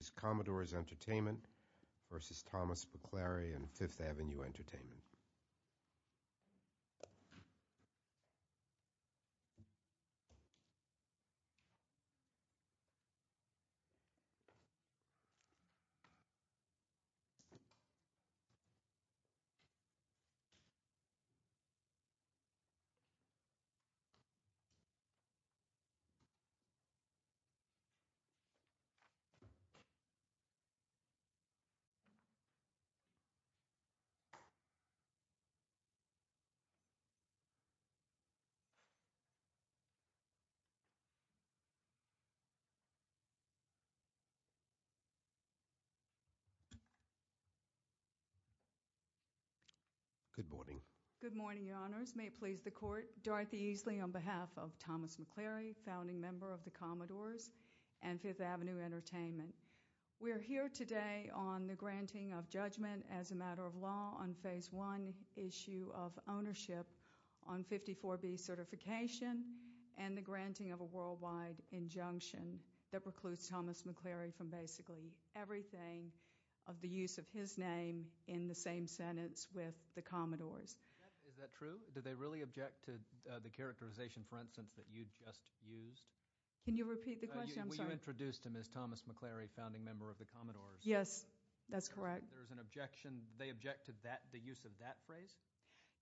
This is Commodores Entertainment v. Thomas McClary and 5th Avenue Entertainment. Good morning. Good morning, your honors. May it please the court, Dorothy Easley on behalf of Thomas McClary, founding member of the Commodores and 5th Avenue Entertainment. We are here today on the granting of judgment as a matter of law on phase one issue of ownership on 54B certification and the granting of a worldwide injunction that precludes Thomas McClary from basically everything of the use of his name in the same sentence with the Commodores. Is that true? Did they really object to the use of that phrase?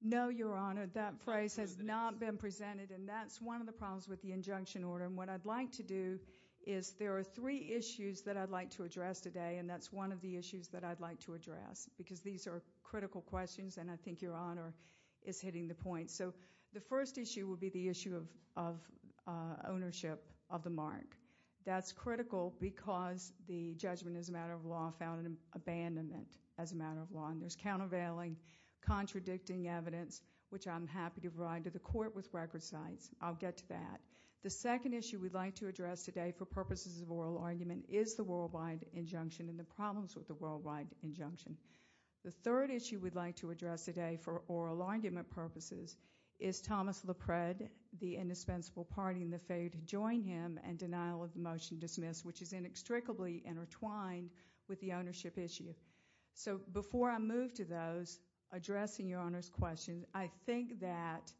No, your honor. That phrase has not been presented and that's one of the problems with the injunction order. What I'd like to do is there are three issues that I'd like to address today and that's one of the issues that I'd like to address because these are critical questions and I think your honor is hitting the point. The first issue would be the issue of ownership of the mark. That's critical because the judgment as a matter of law found an abandonment as a matter of law. There's countervailing, contradicting evidence which I'm happy to provide to the court with record sites. I'll get to that. The second issue we'd like to address today for purposes of oral argument is the worldwide injunction and the problems with the worldwide injunction. The third issue we'd like to address today for oral argument purposes is Thomas LaPrade, the indispensable party and the failure to join him and denial of the motion dismissed which is inextricably intertwined with the ownership issue. Before I move to those, addressing your honor's question, I think that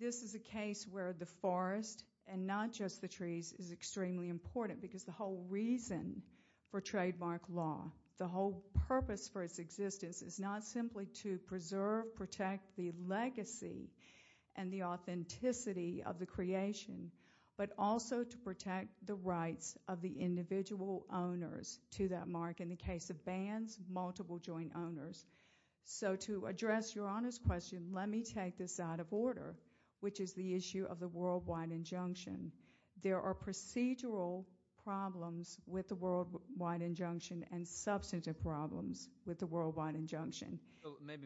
this is a case where the forest and not just the trees is extremely important because the whole reason for trademark law, the whole purpose for its existence is not simply to preserve, protect the legacy and the authenticity of the creation but also to protect the rights of the individual owners to that mark. In the case of bans, multiple joint owners. So to address your honor's question, let me take this out of order which is the issue of the worldwide injunction. There are procedural problems with the worldwide injunction and substantive problems with the worldwide injunction.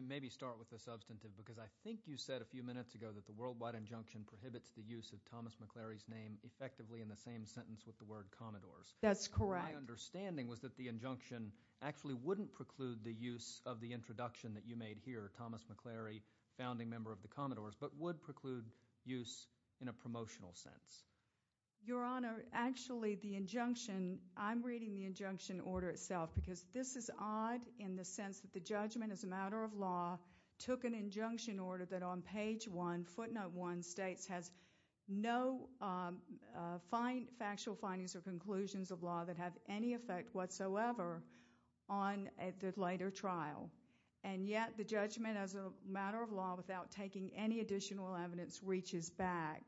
Maybe start with the substantive because I think you said a few minutes ago that the worldwide injunction prohibits the use of Thomas MacLary's name effectively in the same sentence with the word Commodores. That's correct. My understanding was that the injunction actually wouldn't preclude the use of the introduction that you made here, Thomas MacLary, founding member of the Commodores, but would preclude use in a promotional sense. Your honor, actually the injunction, I'm reading the injunction order itself because this is odd in the sense that the judgment as a matter of law took an injunction order that on page 1, footnote 1 states has no factual findings or conclusions of law that have any effect whatsoever on the later trial and yet the judgment as a matter of law without taking any additional evidence reaches back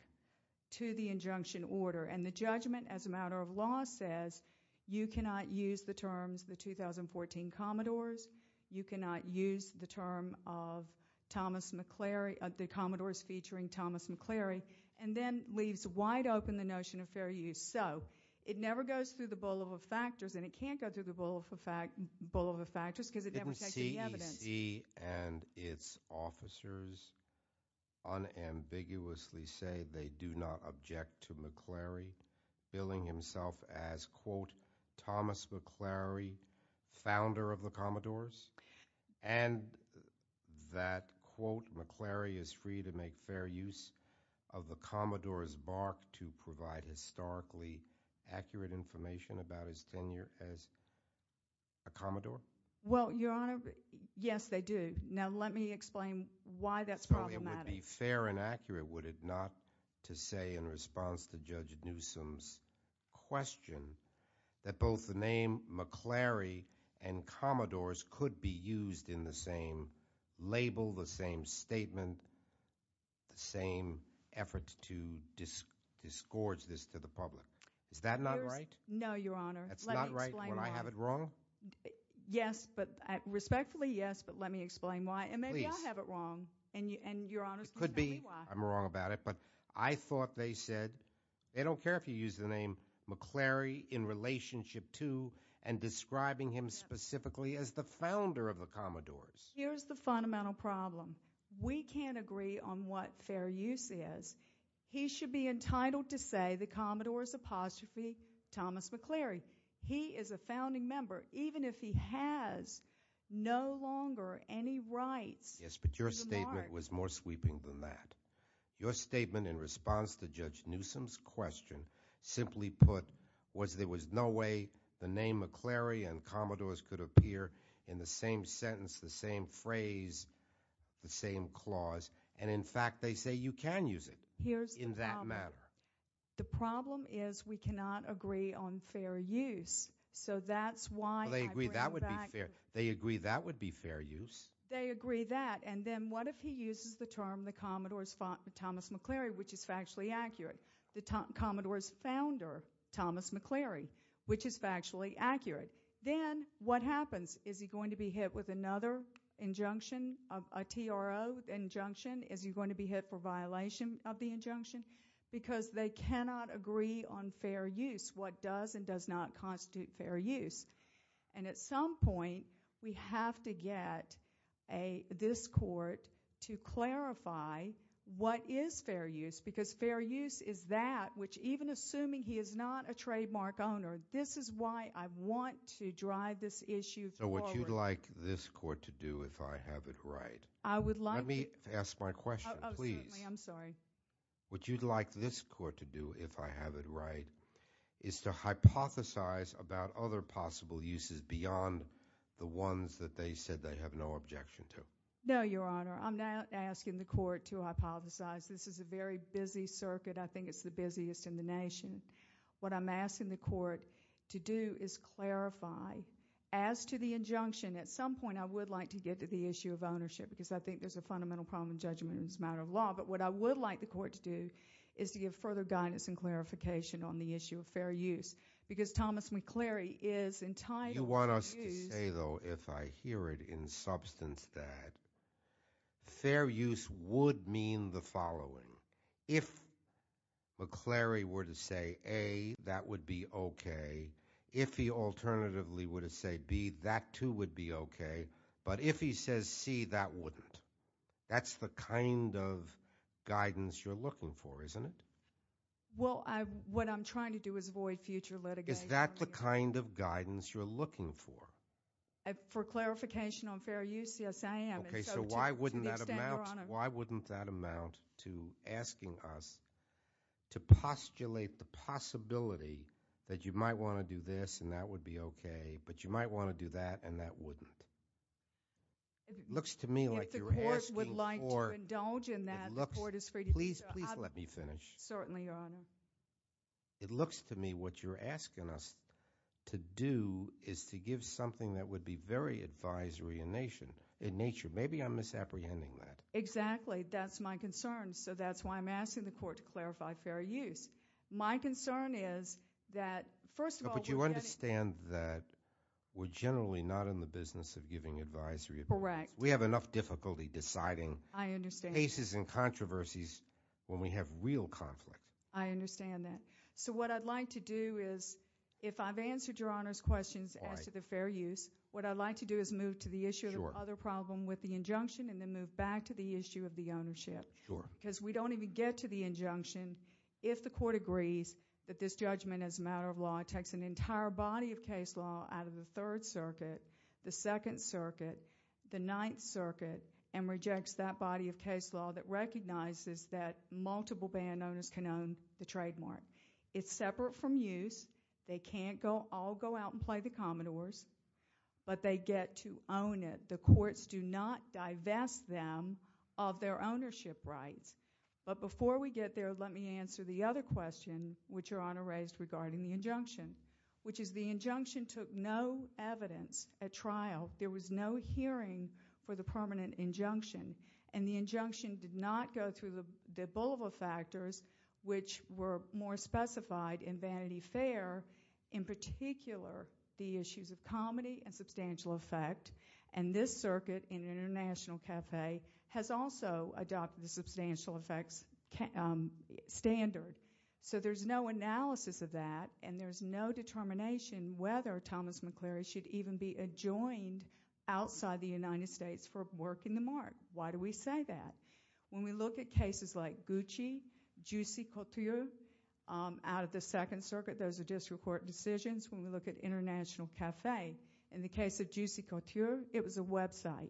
to the injunction order and the judgment as a matter of law says you cannot use the terms the 2014 Commodores, you cannot use the term of Thomas MacLary, the Commodores featuring Thomas MacLary and then leaves wide open the notion of fair use. So it never goes through the bowl of the factors and it can't go through the bowl of the factors because it never takes any evidence. Didn't CEC and its officers unambiguously say they do not object to MacLary billing himself as quote Thomas MacLary, founder of the Commodores and that quote MacLary is free to make fair use of the Commodores' mark to provide historically accurate information about his tenure as a Commodore? Well, Your Honor, yes, they do. Now let me explain why that's problematic. It would be fair and accurate, would it not, to say in response to Judge Newsom's question that both the name MacLary and Commodores could be used in the same label, the same statement, the same effort to disgorge this to the public. Is that not right? No, Your Honor. That's not right when I have it wrong? Well, yes, but respectfully yes, but let me explain why. And maybe I have it wrong and Your Honor's going to tell me why. It could be I'm wrong about it, but I thought they said they don't care if you use the name MacLary in relationship to and describing him specifically as the founder of the Commodores. Here's the fundamental problem. We can't agree on what fair use is. He should be entitled to say the Commodores apostrophe Thomas MacLary. He is a founding member even if he has no longer any rights to the mark. Yes, but your statement was more sweeping than that. Your statement in response to Judge Newsom's question simply put was there was no way the name MacLary and Commodores could appear in the same sentence, the same phrase, the same clause, and in fact they say you can use it in that manner. The problem is we cannot agree on fair use, so that's why I bring it back. Well, they agree that would be fair. They agree that would be fair use. They agree that, and then what if he uses the term the Commodores Thomas MacLary, which is factually accurate, the Commodores founder Thomas MacLary, which is factually accurate? Then what happens? Is he going to be hit with another injunction, a TRO injunction? Is he going to be hit with another injunction? Because they cannot agree on fair use, what does and does not constitute fair use, and at some point we have to get this court to clarify what is fair use, because fair use is that which even assuming he is not a trademark owner, this is why I want to drive this issue forward. So what you'd like this court to do if I have it right? I would like to— Let me ask my question, please. Oh, certainly. I'm sorry. What you'd like this court to do if I have it right is to hypothesize about other possible uses beyond the ones that they said they have no objection to. No, Your Honor. I'm not asking the court to hypothesize. This is a very busy circuit. I think it's the busiest in the nation. What I'm asking the court to do is clarify, as to the injunction, at some point I would like to get to the issue of ownership, because I think there's a fundamental problem in judgment and it's a matter of law, but what I would like the court to do is to give further guidance and clarification on the issue of fair use, because Thomas McCleary is entitled to use— You want us to say, though, if I hear it in substance that fair use would mean the following. If McCleary were to say A, that would be okay. If he alternatively were to say B, that too would be okay, but if he says C, that wouldn't. That's the kind of guidance you're looking for, isn't it? Well, what I'm trying to do is avoid future litigation. Is that the kind of guidance you're looking for? For clarification on fair use, yes, I am. Okay, so why wouldn't that amount to asking us to postulate the possibility that you might want to do that and that wouldn't? It looks to me like you're asking for— If the court would like to indulge in that, the court is free to do so. It looks—please, please let me finish. Certainly, Your Honor. It looks to me what you're asking us to do is to give something that would be very advisory in nature. Maybe I'm misapprehending that. Exactly, that's my concern, so that's why I'm asking the court to clarify fair use. My concern is that, first of all— You understand that we're generally not in the business of giving advisory— Correct. We have enough difficulty deciding— I understand. —cases and controversies when we have real conflict. I understand that. So what I'd like to do is, if I've answered Your Honor's questions— Why? —as to the fair use, what I'd like to do is move to the issue— Sure. —of the other problem with the injunction and then move back to the issue of the ownership. Sure. Because we don't even get to the injunction if the court agrees that this judgment as a matter of law takes an entire body of case law out of the Third Circuit, the Second Circuit, the Ninth Circuit, and rejects that body of case law that recognizes that multiple band owners can own the trademark. It's separate from use. They can't all go out and play the Commodores, but they get to own it. The courts do not divest them of their ownership rights. But before we get there, let me answer the other question which Your Honor raised regarding the injunction, which is the injunction took no evidence at trial. There was no hearing for the permanent injunction. And the injunction did not go through the Boulevard factors, which were more specified in Vanity Fair, in particular the issues of comedy and substantial effect. And this circuit in International Cafe has also adopted the substantial effects standard. So there's no analysis of that, and there's no determination whether Thomas McClary should even be adjoined outside the United States for working the mark. Why do we say that? When we look at cases like Gucci, Juicy Couture out of the Second Circuit, those are district court decisions. When we look at International Cafe, in the case of Juicy Couture, it was a website.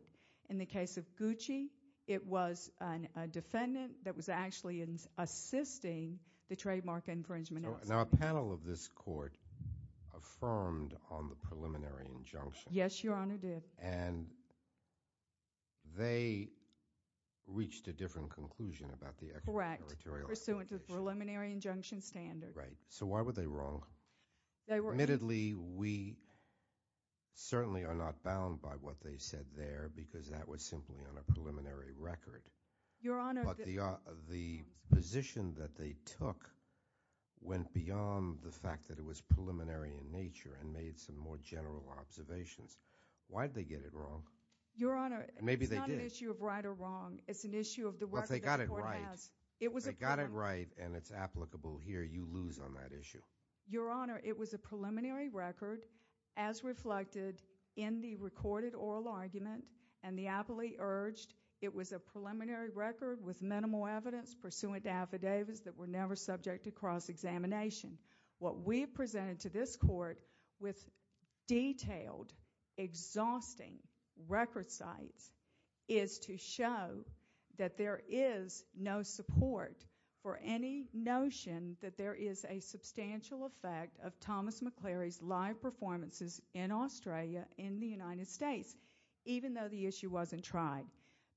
In the case of Gucci, it was a defendant that was actually assisting the trademark infringement. So now a panel of this court affirmed on the preliminary injunction. Yes, Your Honor did. And they reached a different conclusion about the extraterritorial obligation. Correct, pursuant to the preliminary injunction standard. Right. So why were they wrong? Admittedly, we certainly are not bound by what they said there because that was simply on a preliminary record. Your Honor. But the position that they took went beyond the fact that it was preliminary in nature and made some more general observations. Why did they get it wrong? Your Honor. Maybe they did. It's not an issue of right or wrong. It's an issue of the record the court has. But they got it right. They got it right, and it's applicable here. You lose on that issue. Your Honor, it was a preliminary record as reflected in the recorded oral argument, and the appellee urged it was a preliminary record with minimal evidence pursuant to affidavits that were never subject to cross-examination. What we presented to this court with detailed, exhausting record sites is to show that there is no support for any notion that there is a substantial effect of Thomas McClary's live performances in Australia in the United States, even though the issue wasn't tried.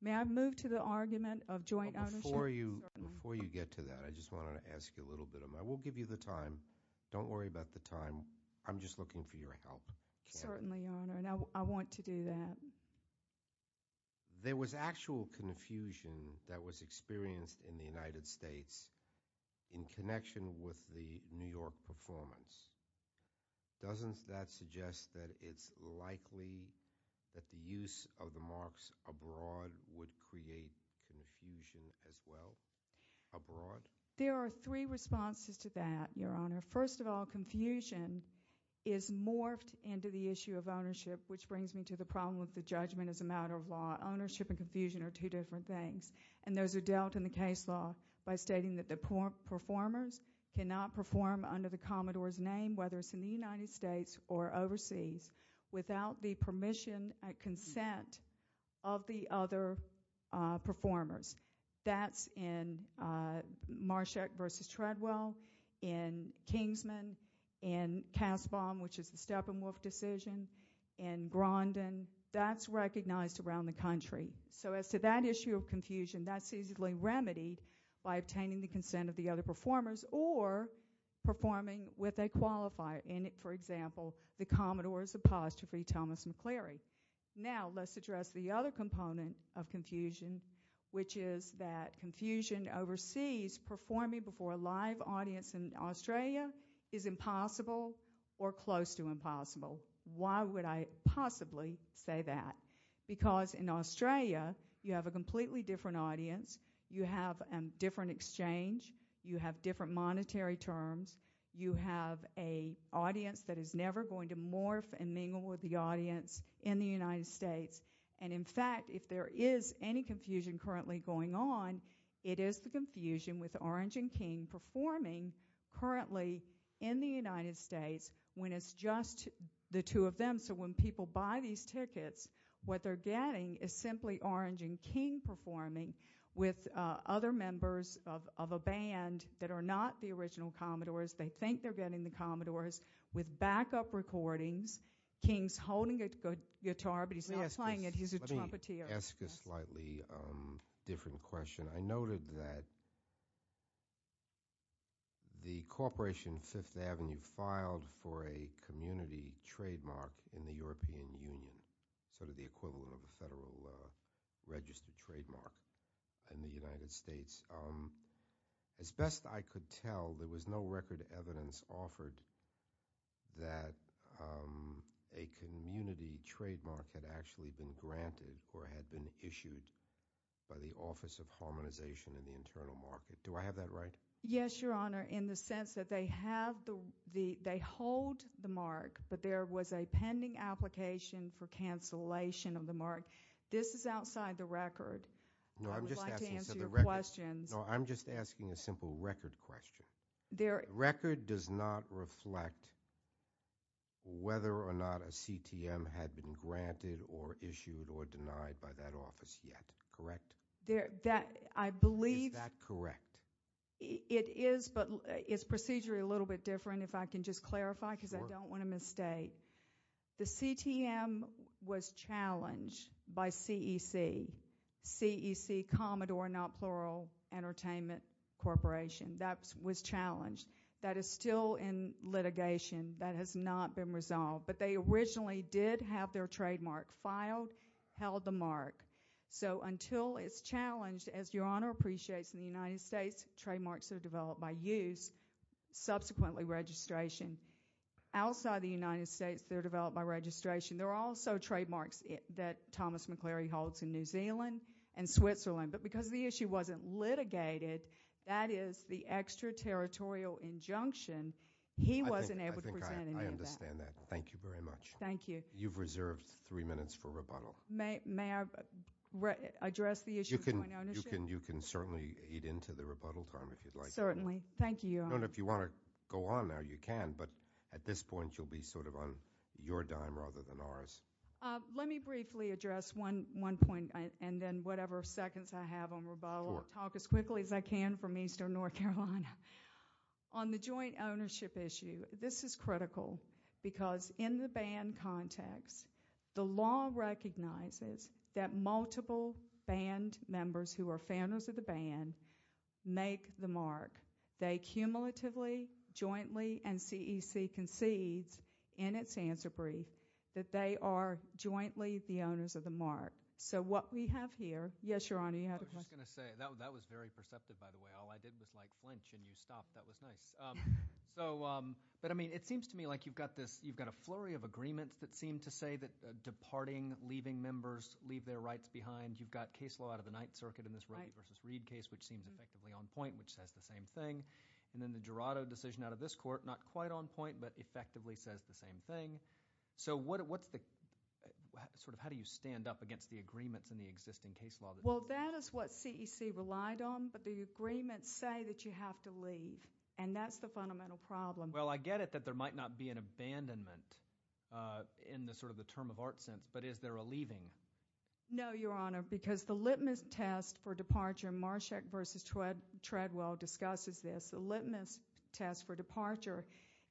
May I move to the argument of joint ownership? Before you get to that, I just wanted to ask you a little bit. I will give you the time. Don't worry about the time. I'm just looking for your help. Certainly, Your Honor, and I want to do that. There was actual confusion that was experienced in the United States in connection with the New York performance. Doesn't that suggest that it's likely that the use of the marks abroad would create confusion as well abroad? There are three responses to that, Your Honor. First of all, confusion is morphed into the issue of ownership, which brings me to the problem of the judgment as a matter of law. Ownership and confusion are two different things, and those are dealt in the case law by stating that the performers cannot perform under the Commodore's name, whether it's in the United States or overseas, without the permission and consent of the other performers. That's in Marshak v. Treadwell, in Kingsman, in Kasbaum, which is the Steppenwolf decision, in Grondon. That's recognized around the country. So as to that issue of confusion, that's easily remedied by obtaining the consent of the other performers or performing with a qualifier. For example, the Commodore's apostrophe, Thomas McCleary. Now let's address the other component of confusion, which is that confusion overseas, performing before a live audience in Australia, is impossible or close to impossible. Why would I possibly say that? Because in Australia, you have a completely different audience, you have a different exchange, you have different monetary terms, you have an audience that is never going to morph and mingle with the audience in the United States. And in fact, if there is any confusion currently going on, it is the confusion with Orange and King performing currently in the United States, when it's just the two of them. So when people buy these tickets, what they're getting is simply Orange and King performing with other members of a band that are not the original Commodores. They think they're getting the Commodores. With backup recordings, King's holding a guitar, but he's not playing it, he's a trumpeteer. Can I ask a slightly different question? I noted that the Corporation Fifth Avenue filed for a community trademark in the European Union, sort of the equivalent of a federal registered trademark in the United States. As best I could tell, there was no record evidence offered that a community trademark had actually been granted or had been issued by the Office of Harmonization in the Internal Market. Do I have that right? Yes, Your Honor, in the sense that they hold the mark, but there was a pending application for cancellation of the mark. This is outside the record. I would like to answer your questions. No, I'm just asking a simple record question. The record does not reflect whether or not a CTM had been granted or issued or denied by that office yet, correct? Is that correct? It is, but it's procedurally a little bit different, if I can just clarify because I don't want to misstate. The CTM was challenged by CEC, CEC, Commodore, not plural, Entertainment Corporation. That was challenged. That is still in litigation. That has not been resolved. But they originally did have their trademark filed, held the mark. So until it's challenged, as Your Honor appreciates in the United States, trademarks are developed by use, subsequently registration. Outside the United States, they're developed by registration. There are also trademarks that Thomas McCleary holds in New Zealand and Switzerland. But because the issue wasn't litigated, that is the extraterritorial injunction, he wasn't able to present any of that. I think I understand that. Thank you very much. Thank you. You've reserved three minutes for rebuttal. May I address the issue of point ownership? You can certainly eat into the rebuttal time if you'd like. Certainly. Thank you, Your Honor. If you want to go on now, you can. But at this point, you'll be sort of on your dime rather than ours. Let me briefly address one point, and then whatever seconds I have on rebuttal, I'll talk as quickly as I can from eastern North Carolina. On the joint ownership issue, this is critical because in the band context, the law recognizes that multiple band members who are founders of the band make the mark. They cumulatively, jointly, and CEC concedes in its answer brief that they are jointly the owners of the mark. So what we have here, yes, Your Honor, you had a question? I was just going to say, that was very perceptive, by the way. All I did was like flinch and you stopped. That was nice. But, I mean, it seems to me like you've got a flurry of agreements that seem to say that departing, leaving members, leave their rights behind. You've got case law out of the Ninth Circuit in this Roe v. Reed case, which seems effectively on point, which says the same thing. And then the Jurado decision out of this court, not quite on point, but effectively says the same thing. So what's the – sort of how do you stand up against the agreements in the existing case law? Well, that is what CEC relied on, but the agreements say that you have to leave, and that's the fundamental problem. Well, I get it that there might not be an abandonment in sort of the term of art sense, but is there a leaving? No, Your Honor, because the litmus test for departure, Marshak v. Treadwell discusses this, the litmus test for departure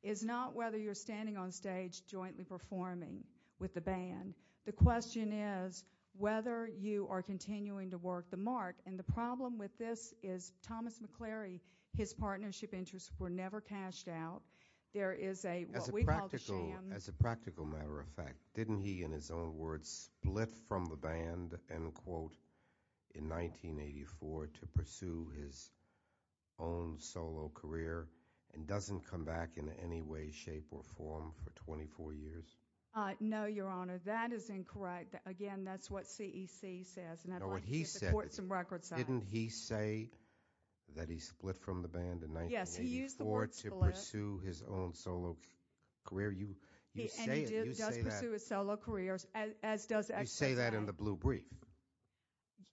is not whether you're standing on stage jointly performing with the band. The question is whether you are continuing to work the mark. And the problem with this is Thomas McCleary, his partnership interests were never cashed out. There is a – what we call the sham. Didn't he, in his own words, split from the band, end quote, in 1984 to pursue his own solo career and doesn't come back in any way, shape, or form for 24 years? No, Your Honor, that is incorrect. Again, that's what CEC says, and I'd like to get the courts and records out. Didn't he say that he split from the band in 1984 to pursue his own solo career? And he does pursue his solo career, as does – You say that in the blue brief.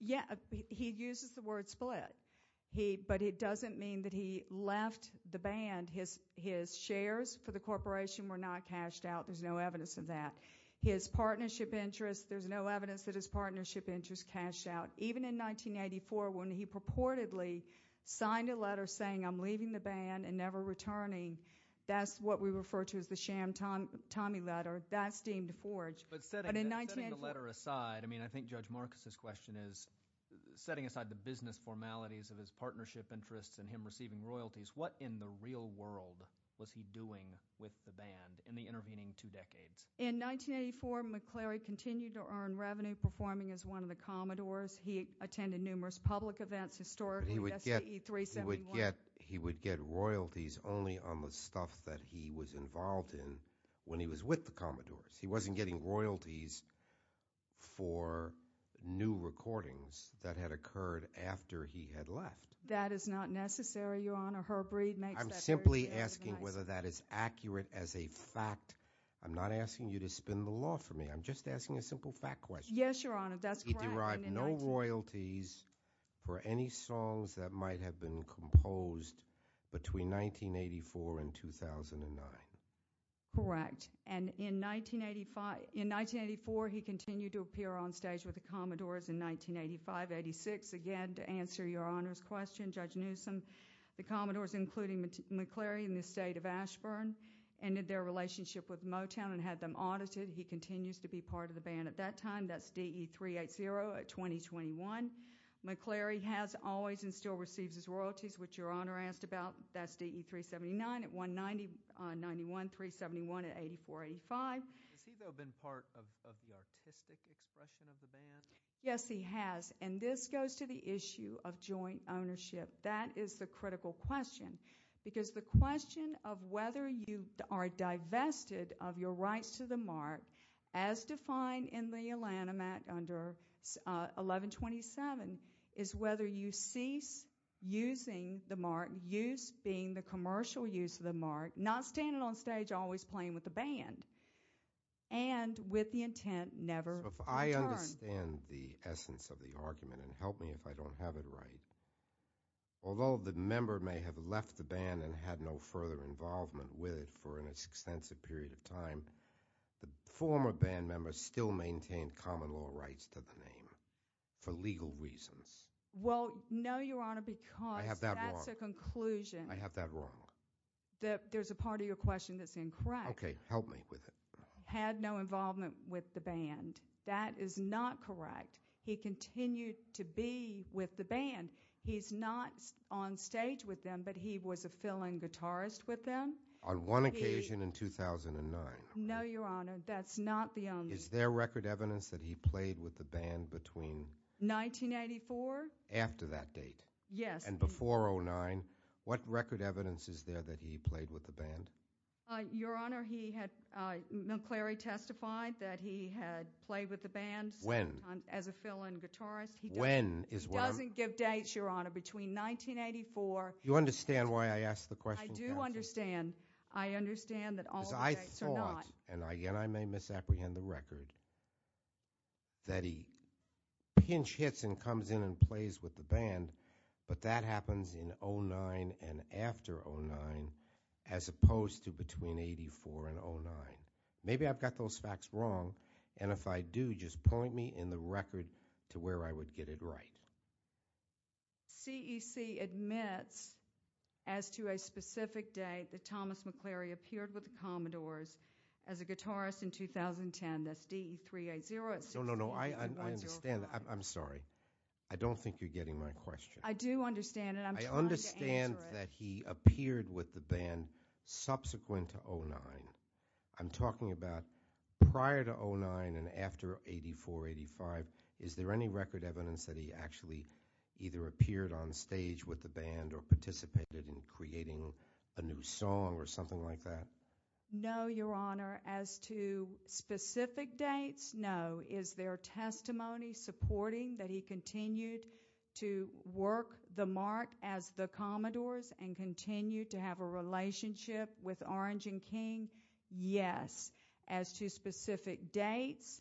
Yeah, he uses the word split, but it doesn't mean that he left the band. His shares for the corporation were not cashed out. There's no evidence of that. His partnership interests, there's no evidence that his partnership interests cashed out, even in 1984 when he purportedly signed a letter saying, I'm leaving the band and never returning. That's what we refer to as the sham Tommy letter. That's deemed forged. But setting the letter aside, I mean, I think Judge Marcus's question is, setting aside the business formalities of his partnership interests and him receiving royalties, what in the real world was he doing with the band in the intervening two decades? In 1984, McCleary continued to earn revenue, performing as one of the Commodores. He attended numerous public events historically. But he would get royalties only on the stuff that he was involved in when he was with the Commodores. He wasn't getting royalties for new recordings that had occurred after he had left. That is not necessary, Your Honor. Herbread makes that very clear. I'm simply asking whether that is accurate as a fact. I'm not asking you to spin the law for me. I'm just asking a simple fact question. Yes, Your Honor, that's correct. He derived no royalties for any songs that might have been composed between 1984 and 2009. Correct. In 1984, he continued to appear on stage with the Commodores. In 1985-86, again, to answer Your Honor's question, Judge Newsom, the Commodores, including McCleary in the state of Ashburn, ended their relationship with Motown and had them audited. He continues to be part of the band at that time. That's DE-380 at 20-21. McCleary has always and still receives his royalties, which Your Honor asked about. That's DE-379 at 190-91, 371 at 84-85. Has he, though, been part of the artistic expression of the band? Yes, he has, and this goes to the issue of joint ownership. That is the critical question because the question of whether you are divested of your rights to the mark, as defined in the Alanimat under 1127, is whether you cease using the mark, use being the commercial use of the mark, not standing on stage always playing with the band, and with the intent never to return. So if I understand the essence of the argument, and help me if I don't have it right, although the member may have left the band and had no further involvement with it for an extensive period of time, the former band member still maintained common law rights to the name for legal reasons. Well, no, Your Honor, because that's a conclusion. I have that wrong. There's a part of your question that's incorrect. Okay, help me with it. Had no involvement with the band. That is not correct. He continued to be with the band. He's not on stage with them, but he was a fill-in guitarist with them. On one occasion in 2009. No, Your Honor, that's not the only one. Is there record evidence that he played with the band between? 1984. After that date. Yes. And before 09. What record evidence is there that he played with the band? Your Honor, he had, McCleary testified that he had played with the band. When? As a fill-in guitarist. When is when? He doesn't give dates, Your Honor, between 1984. You understand why I asked the question? I do understand. I understand that all the dates are not. Because I thought, and again I may misapprehend the record, that he pinch hits and comes in and plays with the band, but that happens in 09 and after 09 as opposed to between 84 and 09. Maybe I've got those facts wrong, and if I do, just point me in the record to where I would get it right. CEC admits as to a specific date that Thomas McCleary appeared with the Commodores as a guitarist in 2010. That's DE380. No, no, no. I understand. I'm sorry. I don't think you're getting my question. I do understand it. I'm trying to answer it. I understand that he appeared with the band subsequent to 09. I'm talking about prior to 09 and after 84, 85. Is there any record evidence that he actually either appeared on stage with the band or participated in creating a new song or something like that? No, Your Honor. As to specific dates, no. Is there testimony supporting that he continued to work the mark as the Commodores and continued to have a relationship with Orange and King? Yes. As to specific dates,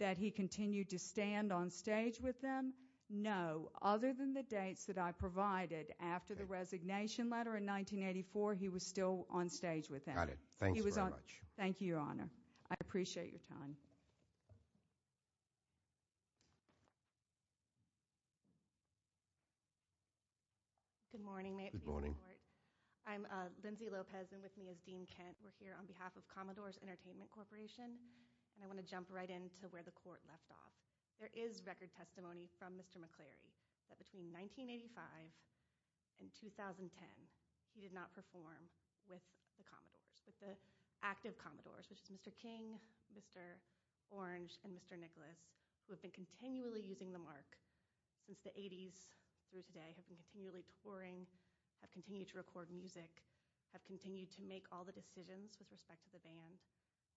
that he continued to stand on stage with them? No. Other than the dates that I provided after the resignation letter in 1984, he was still on stage with them. Got it. Thanks very much. Thank you, Your Honor. I appreciate your time. Good morning. May it please the Court? Good morning. I'm Lindsay Lopez, and with me is Dean Kent. We're here on behalf of Commodores Entertainment Corporation, and I want to jump right in to where the Court left off. There is record testimony from Mr. McCleary that between 1985 and 2010, he did not perform with the Commodores, with the active Commodores, which is Mr. King, Mr. Orange, and Mr. Nicholas, who have been continually using the mark since the 80s through today, have been continually touring, have continued to record music, have continued to make all the decisions with respect to the band.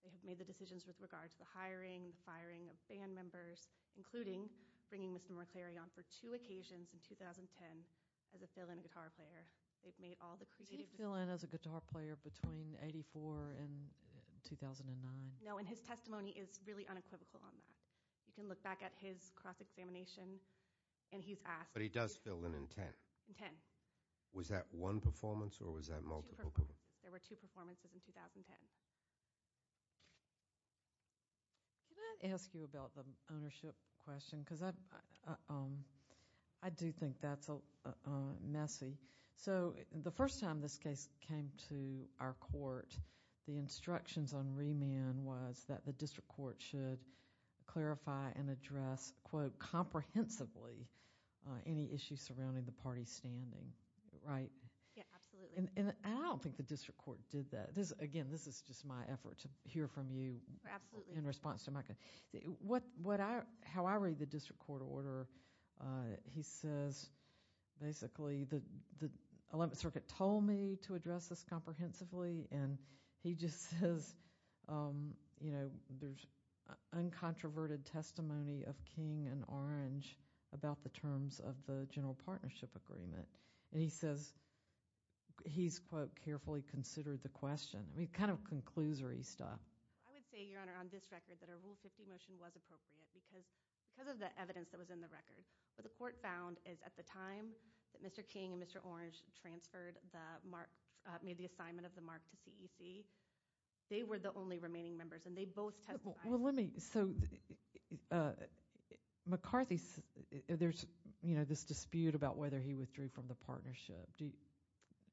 They have made the decisions with regard to the hiring, the firing of band members, including bringing Mr. McCleary on for two occasions in 2010 as a fill-in guitar player. They've made all the creative decisions. Did he fill in as a guitar player between 1984 and 2009? No, and his testimony is really unequivocal on that. You can look back at his cross-examination, and he's asked. But he does fill in in 10? In 10. Was that one performance, or was that multiple? There were two performances in 2010. Can I ask you about the ownership question? Because I do think that's messy. The first time this case came to our court, the instructions on remand was that the district court should clarify and address, quote, Yeah, absolutely. And I don't think the district court did that. Again, this is just my effort to hear from you in response to my question. How I read the district court order, he says, basically, the 11th Circuit told me to address this comprehensively, and he just says, you know, there's uncontroverted testimony of King and Orange about the terms of the general partnership agreement. And he says he's, quote, carefully considered the question. I mean, kind of conclusory stuff. I would say, Your Honor, on this record, that a Rule 50 motion was appropriate because of the evidence that was in the record. What the court found is at the time that Mr. King and Mr. Orange transferred the mark, made the assignment of the mark to CEC, they were the only remaining members, and they both testified. Well, let me, so, McCarthy, there's, you know, this dispute about whether he withdrew from the partnership.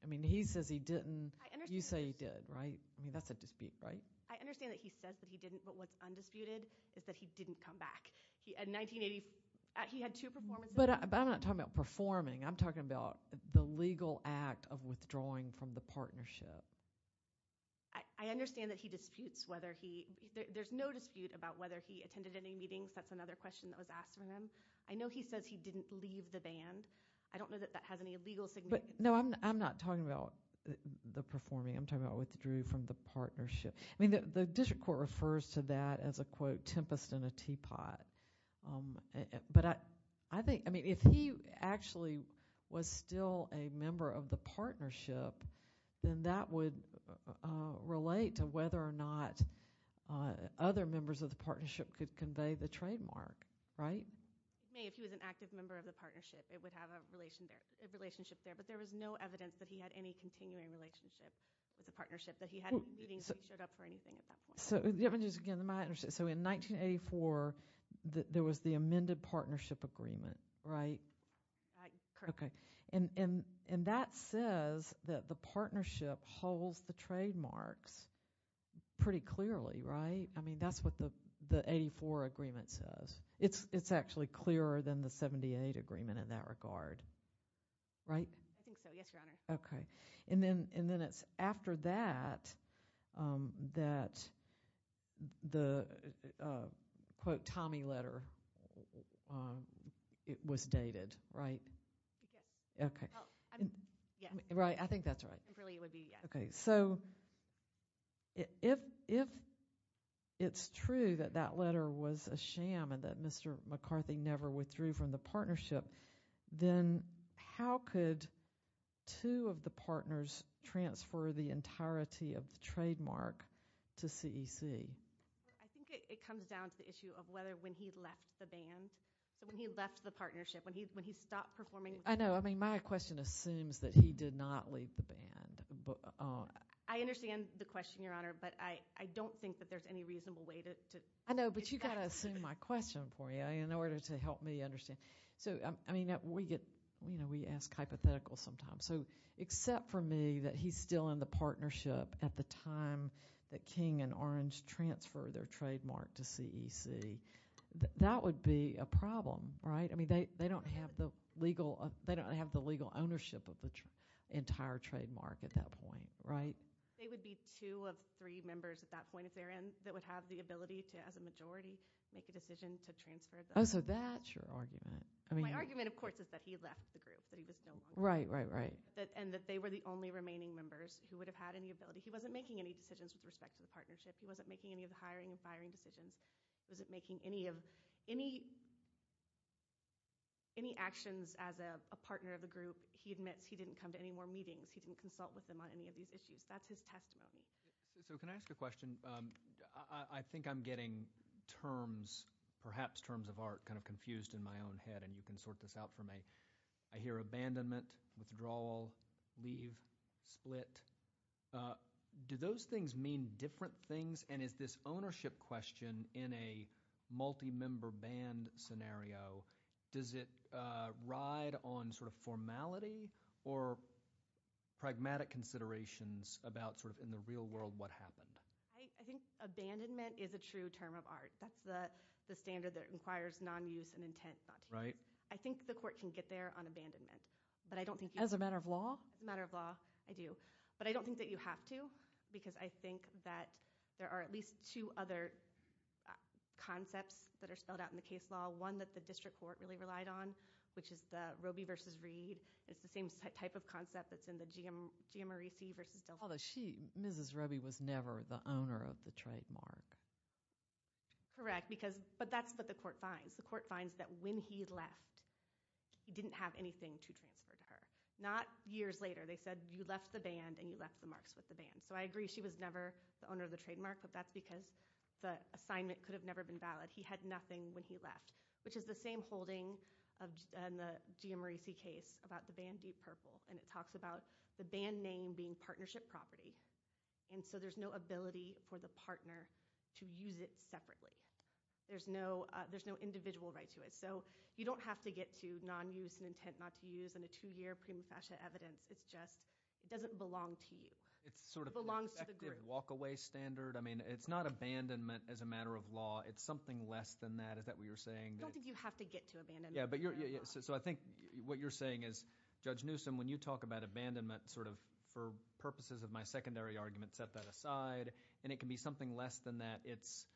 I mean, he says he didn't. You say he did, right? I mean, that's a dispute, right? I understand that he says that he didn't, but what's undisputed is that he didn't come back. In 1980, he had two performances. But I'm not talking about performing. I'm talking about the legal act of withdrawing from the partnership. I understand that he disputes whether he, there's no dispute about whether he attended any meetings. That's another question that was asked of him. I know he says he didn't leave the band. I don't know that that has any legal significance. But, no, I'm not talking about the performing. I'm talking about withdrew from the partnership. I mean, the district court refers to that as a, quote, tempest in a teapot. But I think, I mean, if he actually was still a member of the partnership, then that would relate to whether or not other members of the partnership could convey the trademark, right? If he was an active member of the partnership, it would have a relationship there. But there was no evidence that he had any continuing relationship with the partnership, that he had meetings, that he showed up for anything at that point. So, in 1984, there was the amended partnership agreement, right? Correct. Okay. And that says that the partnership holds the trademarks pretty clearly, right? I mean, that's what the 84 agreement says. It's actually clearer than the 78 agreement in that regard, right? I think so, yes, Your Honor. Okay. And then it's after that that the, quote, Tommy letter was dated, right? Yes. Okay. Well, I mean, yes. Right, I think that's right. I think really it would be, yes. Okay. So, if it's true that that letter was a sham and that Mr. McCarthy never withdrew from the partnership, then how could two of the partners transfer the entirety of the trademark to CEC? I think it comes down to the issue of whether when he left the band, so when he left the partnership, when he stopped performing. I know. I mean, my question assumes that he did not leave the band. I understand the question, Your Honor, but I don't think that there's any reasonable way to get back to that. I know, but you've got to assume my question for you in order to help me understand. So, I mean, we get, you know, we ask hypotheticals sometimes. So, except for me that he's still in the partnership at the time that King and Orange transfer their trademark to CEC, that would be a problem, right? I mean, they don't have the legal ownership of the entire trademark at that point, right? They would be two of three members at that point at their end that would have the ability to, as a majority, make a decision to transfer them. Oh, so that's your argument. My argument, of course, is that he left the group, that he was no longer there. Right, right, right. And that they were the only remaining members who would have had any ability. He wasn't making any decisions with respect to the partnership. He wasn't making any of the hiring and firing decisions. He wasn't making any actions as a partner of the group. He admits he didn't come to any more meetings. He didn't consult with them on any of these issues. That's his testimony. So can I ask a question? I think I'm getting terms, perhaps terms of art, kind of confused in my own head, and you can sort this out for me. I hear abandonment, withdrawal, leave, split. Do those things mean different things, and is this ownership question in a multi-member band scenario, does it ride on sort of formality or pragmatic considerations about sort of in the real world what happened? I think abandonment is a true term of art. That's the standard that inquires non-use and intent. Right. I think the court can get there on abandonment, but I don't think you can. As a matter of law? As a matter of law, I do. But I don't think that you have to, because I think that there are at least two other concepts that are spelled out in the case law, one that the district court really relied on, which is the Roby versus Reed. It's the same type of concept that's in the Giammarese versus Delphi. Although she, Mrs. Roby, was never the owner of the trademark. Correct, but that's what the court finds. The court finds that when he left, he didn't have anything to transfer to her. Not years later. They said you left the band and you left the marks with the band. So I agree she was never the owner of the trademark, but that's because the assignment could have never been valid. He had nothing when he left, which is the same holding in the Giammarese case about the band Deep Purple. It talks about the band name being partnership property, and so there's no ability for the partner to use it separately. There's no individual right to it. So you don't have to get to non-use and intent not to use in a two-year prima facie evidence. It's just it doesn't belong to you. It belongs to the group. It's sort of an effective walk-away standard. I mean, it's not abandonment as a matter of law. It's something less than that. Is that what you're saying? I don't think you have to get to abandonment as a matter of law. So I think what you're saying is, Judge Newsom, when you talk about abandonment, sort of for purposes of my secondary argument, set that aside, and it can be something less than that. It's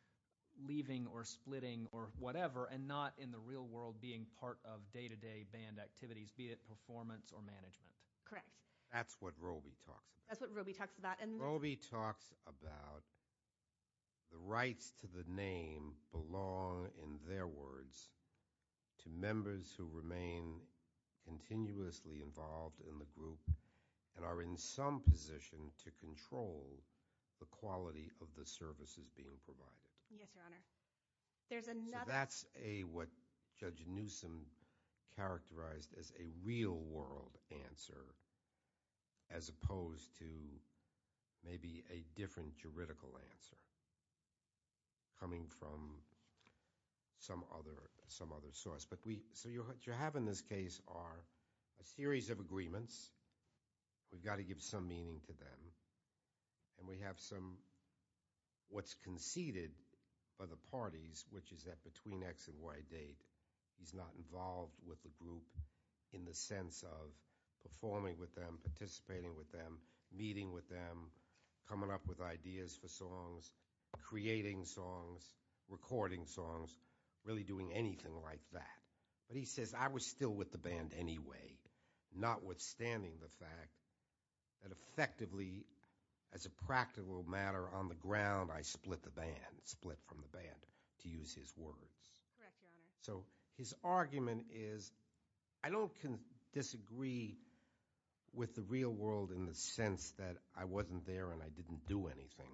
leaving or splitting or whatever and not in the real world being part of day-to-day band activities, be it performance or management. Correct. That's what Robey talks about. That's what Robey talks about. Robey talks about the rights to the name belong, in their words, to members who remain continuously involved in the group and are in some position to control the quality of the services being provided. Yes, Your Honor. So that's what Judge Newsom characterized as a real-world answer as opposed to maybe a different juridical answer coming from some other source. So what you have in this case are a series of agreements. We've got to give some meaning to them, and we have some what's conceded by the parties, which is that between X and Y date, he's not involved with the group in the sense of performing with them, participating with them, meeting with them, coming up with ideas for songs, creating songs, recording songs, really doing anything like that. But he says, I was still with the band anyway, notwithstanding the fact that effectively, as a practical matter, on the ground I split the band, split from the band, to use his words. Correct, Your Honor. So his argument is I don't disagree with the real world in the sense that I wasn't there and I didn't do anything.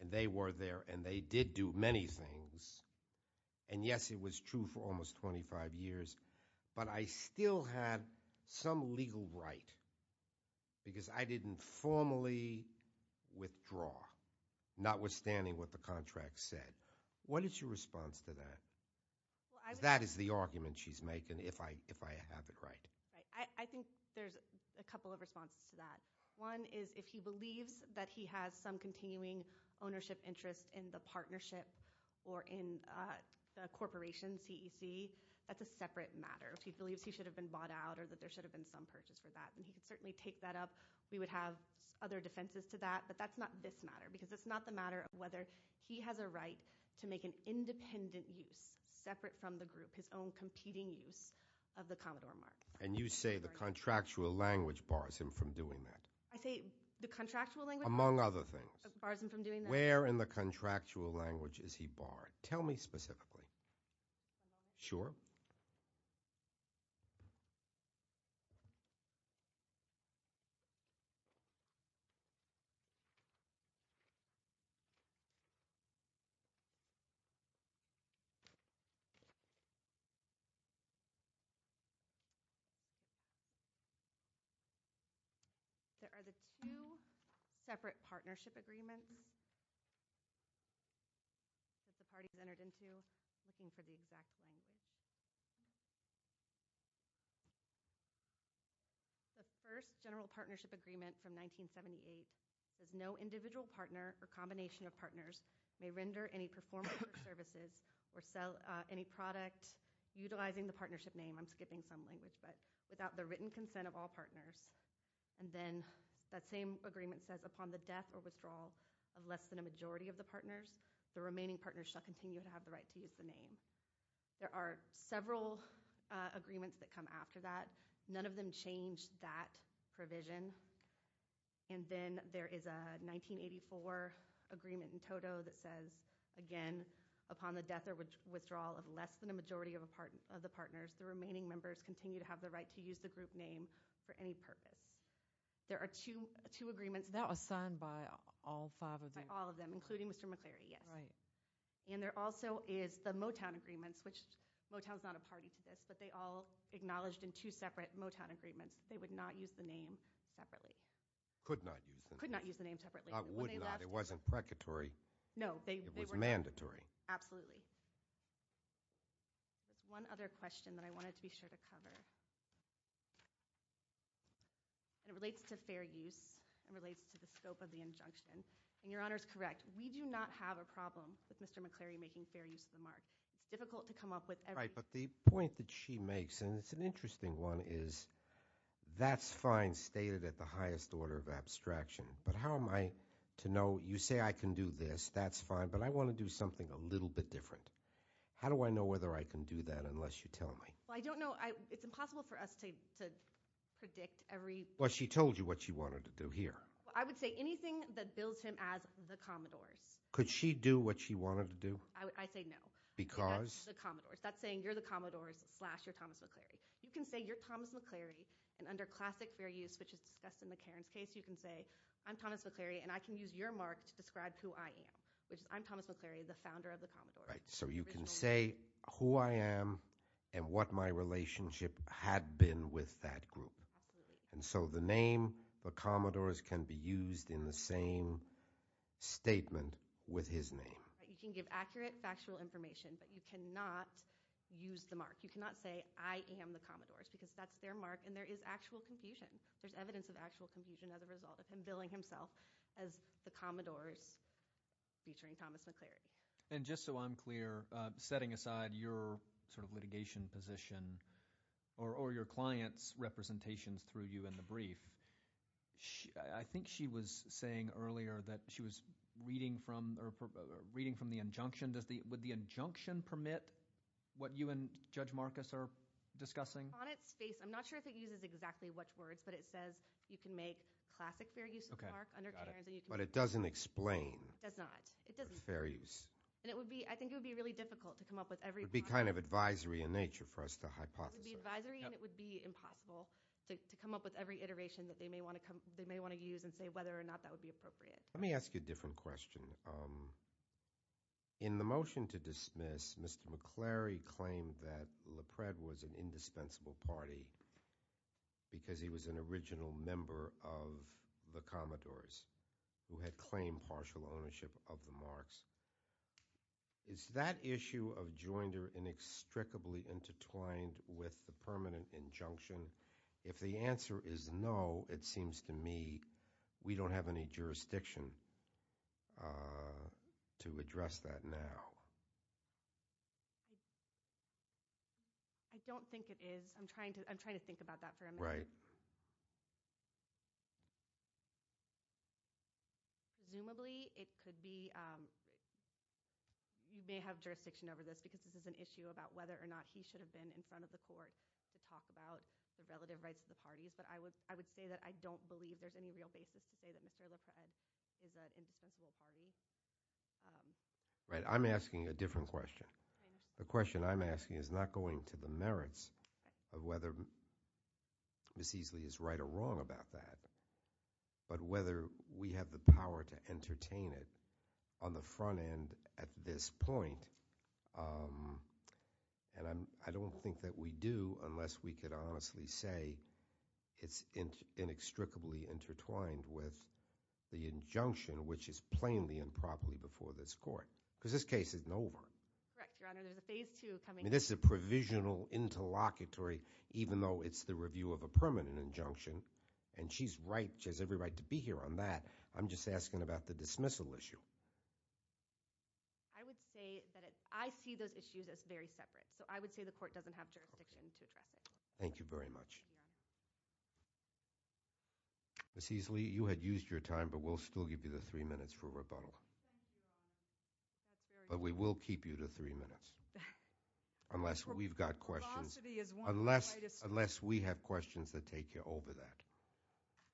And they were there, and they did do many things. And yes, it was true for almost 25 years, but I still had some legal right because I didn't formally withdraw, notwithstanding what the contract said. What is your response to that? Because that is the argument she's making, if I have it right. I think there's a couple of responses to that. One is if he believes that he has some continuing ownership interest in the partnership or in the corporation, CEC, that's a separate matter. If he believes he should have been bought out or that there should have been some purchase for that, then he could certainly take that up. We would have other defenses to that, but that's not this matter because it's not the matter of whether he has a right to make an independent use separate from the group, his own competing use of the Commodore mark. And you say the contractual language bars him from doing that. I say the contractual language… Among other things. …bars him from doing that. Where in the contractual language is he barred? Tell me specifically. Sure. There are the two separate partnership agreements that the parties entered into looking for the exact language. The first general partnership agreement from 1978 says no individual partner or combination of partners may render any performance or services or sell any product utilizing the partnership name. I'm skipping some language, but without the written consent of all partners. And then that same agreement says upon the death or withdrawal of less than a majority of the partners, the remaining partners shall continue to have the right to use the name. There are several agreements that come after that. None of them change that provision. And then there is a 1984 agreement in total that says, again, upon the death or withdrawal of less than a majority of the partners, the remaining members continue to have the right to use the group name for any purpose. There are two agreements… All five of them? All of them, including Mr. McCleary, yes. And there also is the Motown agreements, which Motown's not a party to this, but they all acknowledged in two separate Motown agreements that they would not use the name separately. Could not use the name. Could not use the name separately. I would not. It wasn't precatory. No. It was mandatory. Absolutely. There's one other question that I wanted to be sure to cover. And it relates to fair use and relates to the scope of the injunction. And Your Honor's correct. We do not have a problem with Mr. McCleary making fair use of the mark. It's difficult to come up with everything. Right, but the point that she makes, and it's an interesting one, is that's fine stated at the highest order of abstraction, but how am I to know you say I can do this, that's fine, but I want to do something a little bit different. How do I know whether I can do that unless you tell me? Well, I don't know. It's impossible for us to predict every. Well, she told you what she wanted to do here. Well, I would say anything that bills him as the Commodores. Could she do what she wanted to do? I say no. Because? That's the Commodores. That's saying you're the Commodores slash you're Thomas McCleary. You can say you're Thomas McCleary, and under classic fair use, which is discussed in McCarran's case, you can say I'm Thomas McCleary, and I can use your mark to describe who I am, which is I'm Thomas McCleary, the founder of the Commodores. So you can say who I am and what my relationship had been with that group. And so the name, the Commodores, can be used in the same statement with his name. You can give accurate factual information, but you cannot use the mark. You cannot say I am the Commodores because that's their mark, and there is actual confusion. There's evidence of actual confusion as a result of him billing himself as the Commodores featuring Thomas McCleary. And just so I'm clear, setting aside your sort of litigation position or your client's representations through you in the brief, I think she was saying earlier that she was reading from the injunction. Would the injunction permit what you and Judge Marcus are discussing? On its face, I'm not sure if it uses exactly which words, but it says you can make classic fair use of the mark under Carran's. But it doesn't explain. It does not. It doesn't. It's fair use. And it would be, I think it would be really difficult to come up with every kind of... It would be kind of advisory in nature for us to hypothesize. It would be advisory, and it would be impossible to come up with every iteration that they may want to use and say whether or not that would be appropriate. Let me ask you a different question. In the motion to dismiss, Mr. McCleary claimed that LePred was an indispensable party because he was an original member of the Commodores who had claimed partial ownership of the marks. Is that issue of joinder inextricably intertwined with the permanent injunction? If the answer is no, it seems to me we don't have any jurisdiction to address that now. I don't think it is. I'm trying to think about that for a minute. Right. Presumably it could be... You may have jurisdiction over this because this is an issue about whether or not he should have been in front of the court to talk about the relative rights of the parties. But I would say that I don't believe there's any real basis to say that Mr. LePred is an indispensable party. Right. I'm asking a different question. The question I'm asking is not going to the merits of whether Ms. Easley is right or wrong about that, but whether we have the power to entertain it on the front end at this point. I don't think that we do unless we could honestly say it's inextricably intertwined with the injunction, which is plainly improperly before this court, because this case isn't over. Correct, Your Honor. There's a phase two coming up. This is a provisional interlocutory, even though it's the review of a permanent injunction. And she's right. She has every right to be here on that. I'm just asking about the dismissal issue. I would say that I see those issues as very separate. So I would say the court doesn't have jurisdiction to address it. Thank you very much. Ms. Easley, you had used your time, but we'll still give you the three minutes for rebuttal. But we will keep you to three minutes unless we've got questions. Unless we have questions that take you over that.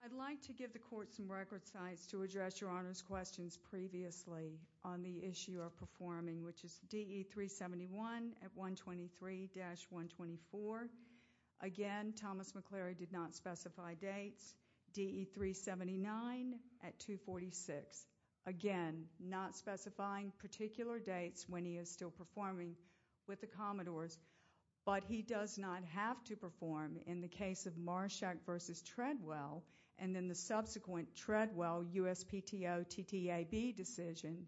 I'd like to give the court some record sites to address Your Honor's questions previously on the issue of performing, which is DE 371 at 123-124. Again, Thomas McClary did not specify dates. DE 379 at 246. Again, not specifying particular dates when he is still performing with the Commodores. But he does not have to perform in the case of Marshack v. Treadwell, and then the subsequent Treadwell USPTO TTAB decision.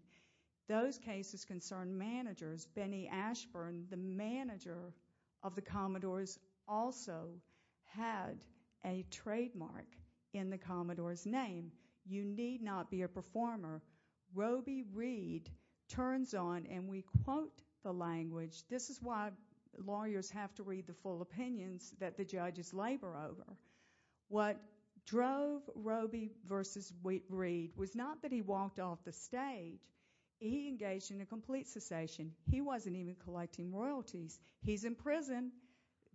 Those cases concern managers. Benny Ashburn, the manager of the Commodores, also had a trademark in the Commodores' name. You need not be a performer. Roby Reid turns on, and we quote the language. This is why lawyers have to read the full opinions that the judges labor over. What drove Roby v. Reid was not that he walked off the stage. He engaged in a complete cessation. He wasn't even collecting royalties. He's in prison.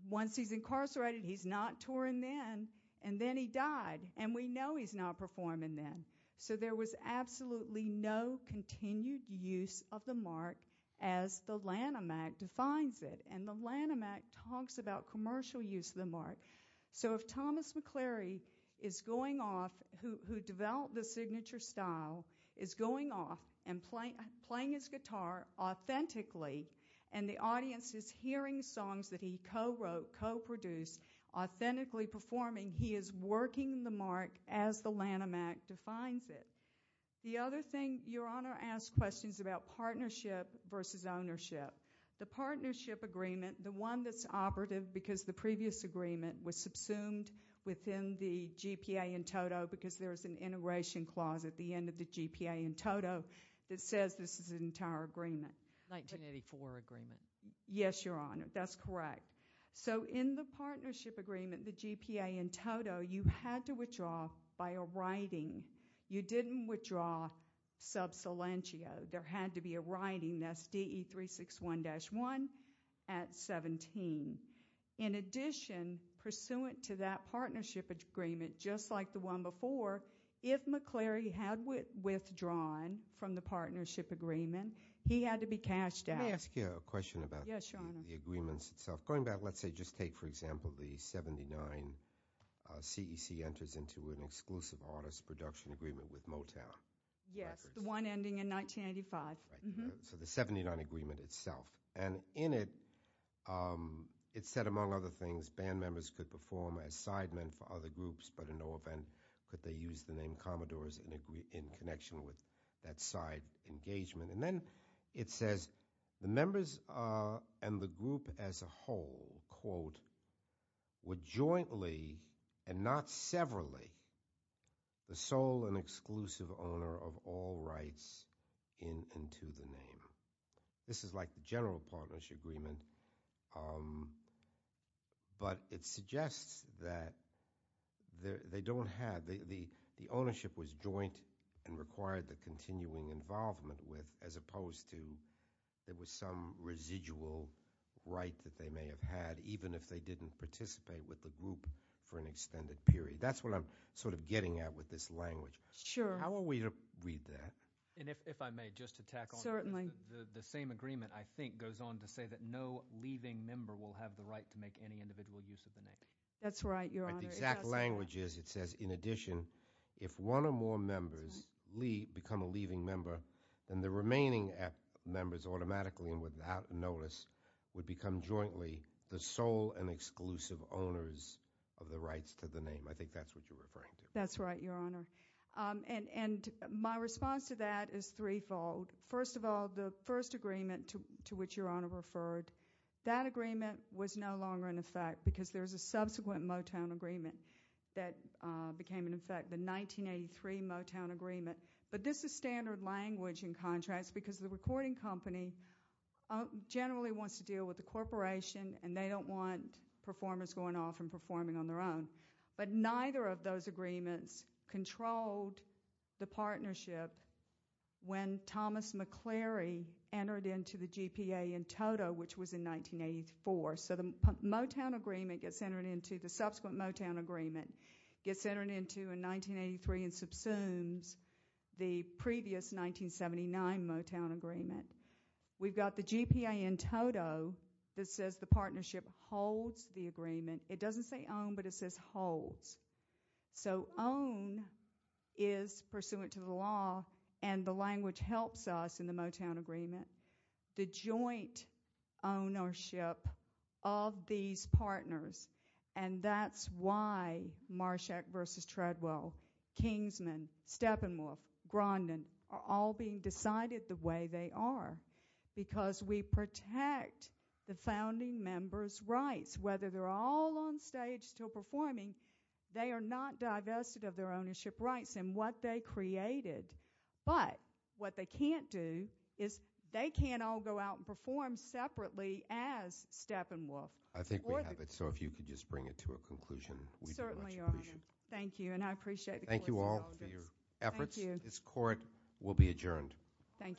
Once he's incarcerated, he's not touring then. And then he died, and we know he's not performing then. So there was absolutely no continued use of the mark as the Lanham Act defines it. And the Lanham Act talks about commercial use of the mark. So if Thomas McCleary is going off, who developed the signature style, is going off and playing his guitar authentically, and the audience is hearing songs that he co-wrote, co-produced, authentically performing, he is working the mark as the Lanham Act defines it. The other thing, Your Honor asked questions about partnership versus ownership. The partnership agreement, the one that's operative because the previous agreement was subsumed within the GPA in toto because there is an integration clause at the end of the GPA in toto that says this is an entire agreement. 1984 agreement. Yes, Your Honor, that's correct. So in the partnership agreement, the GPA in toto, you had to withdraw by a writing. You didn't withdraw sub silentio. There had to be a writing that's DE 361-1 at 17. In addition, pursuant to that partnership agreement, just like the one before, if McCleary had withdrawn from the partnership agreement, he had to be cashed out. Let me ask you a question about the agreements itself. Going back, let's say, just take, for example, the 79 CEC enters into an exclusive artist production agreement with Motown. Yes, the one ending in 1985. So the 79 agreement itself, and in it, it said, among other things, band members could perform as sidemen for other groups, but in no event could they use the name Commodores in connection with that side engagement. And then it says the members and the group as a whole, quote, would jointly, and not severally, the sole and exclusive owner of all rights in and to the name. This is like the general partnership agreement, but it suggests that they don't have, the ownership was joint and required the continuing involvement with, as opposed to there was some residual right that they may have had, even if they didn't participate with the group for an extended period. That's what I'm sort of getting at with this language. Sure. How are we to read that? And if I may, just to tack on. Certainly. The same agreement, I think, goes on to say that no leaving member will have the right to make any individual use of the name. That's right, Your Honor. But the exact language is, it says, in addition, if one or more members become a leaving member, then the remaining members automatically and without notice would become jointly the sole and exclusive owners of the rights to the name. I think that's what you're referring to. That's right, Your Honor. And my response to that is threefold. First of all, the first agreement to which Your Honor referred, that agreement was no longer in effect because there was a subsequent Motown agreement that became in effect, the 1983 Motown agreement. But this is standard language in contrast because the recording company generally wants to deal with the corporation and they don't want performers going off and performing on their own. But neither of those agreements controlled the partnership when Thomas McCleary entered into the GPA in Toto, which was in 1984. So the Motown agreement gets entered into, the subsequent Motown agreement gets entered into in 1983 and subsumes the previous 1979 Motown agreement. We've got the GPA in Toto that says the partnership holds the agreement. It doesn't say own, but it says holds. So own is pursuant to the law, and the language helps us in the Motown agreement. The joint ownership of these partners, and that's why Marshack v. Treadwell, Kingsman, Steppenwolf, Grondin are all being decided the way they are because we protect the founding members' rights. Whether they're all on stage still performing, they are not divested of their ownership rights and what they created. But what they can't do is they can't all go out and perform separately as Steppenwolf. I think we have it, so if you could just bring it to a conclusion. We'd be much appreciated. Thank you, and I appreciate the court's indulgence. Thank you all for your efforts. This court will be adjourned. Thank you.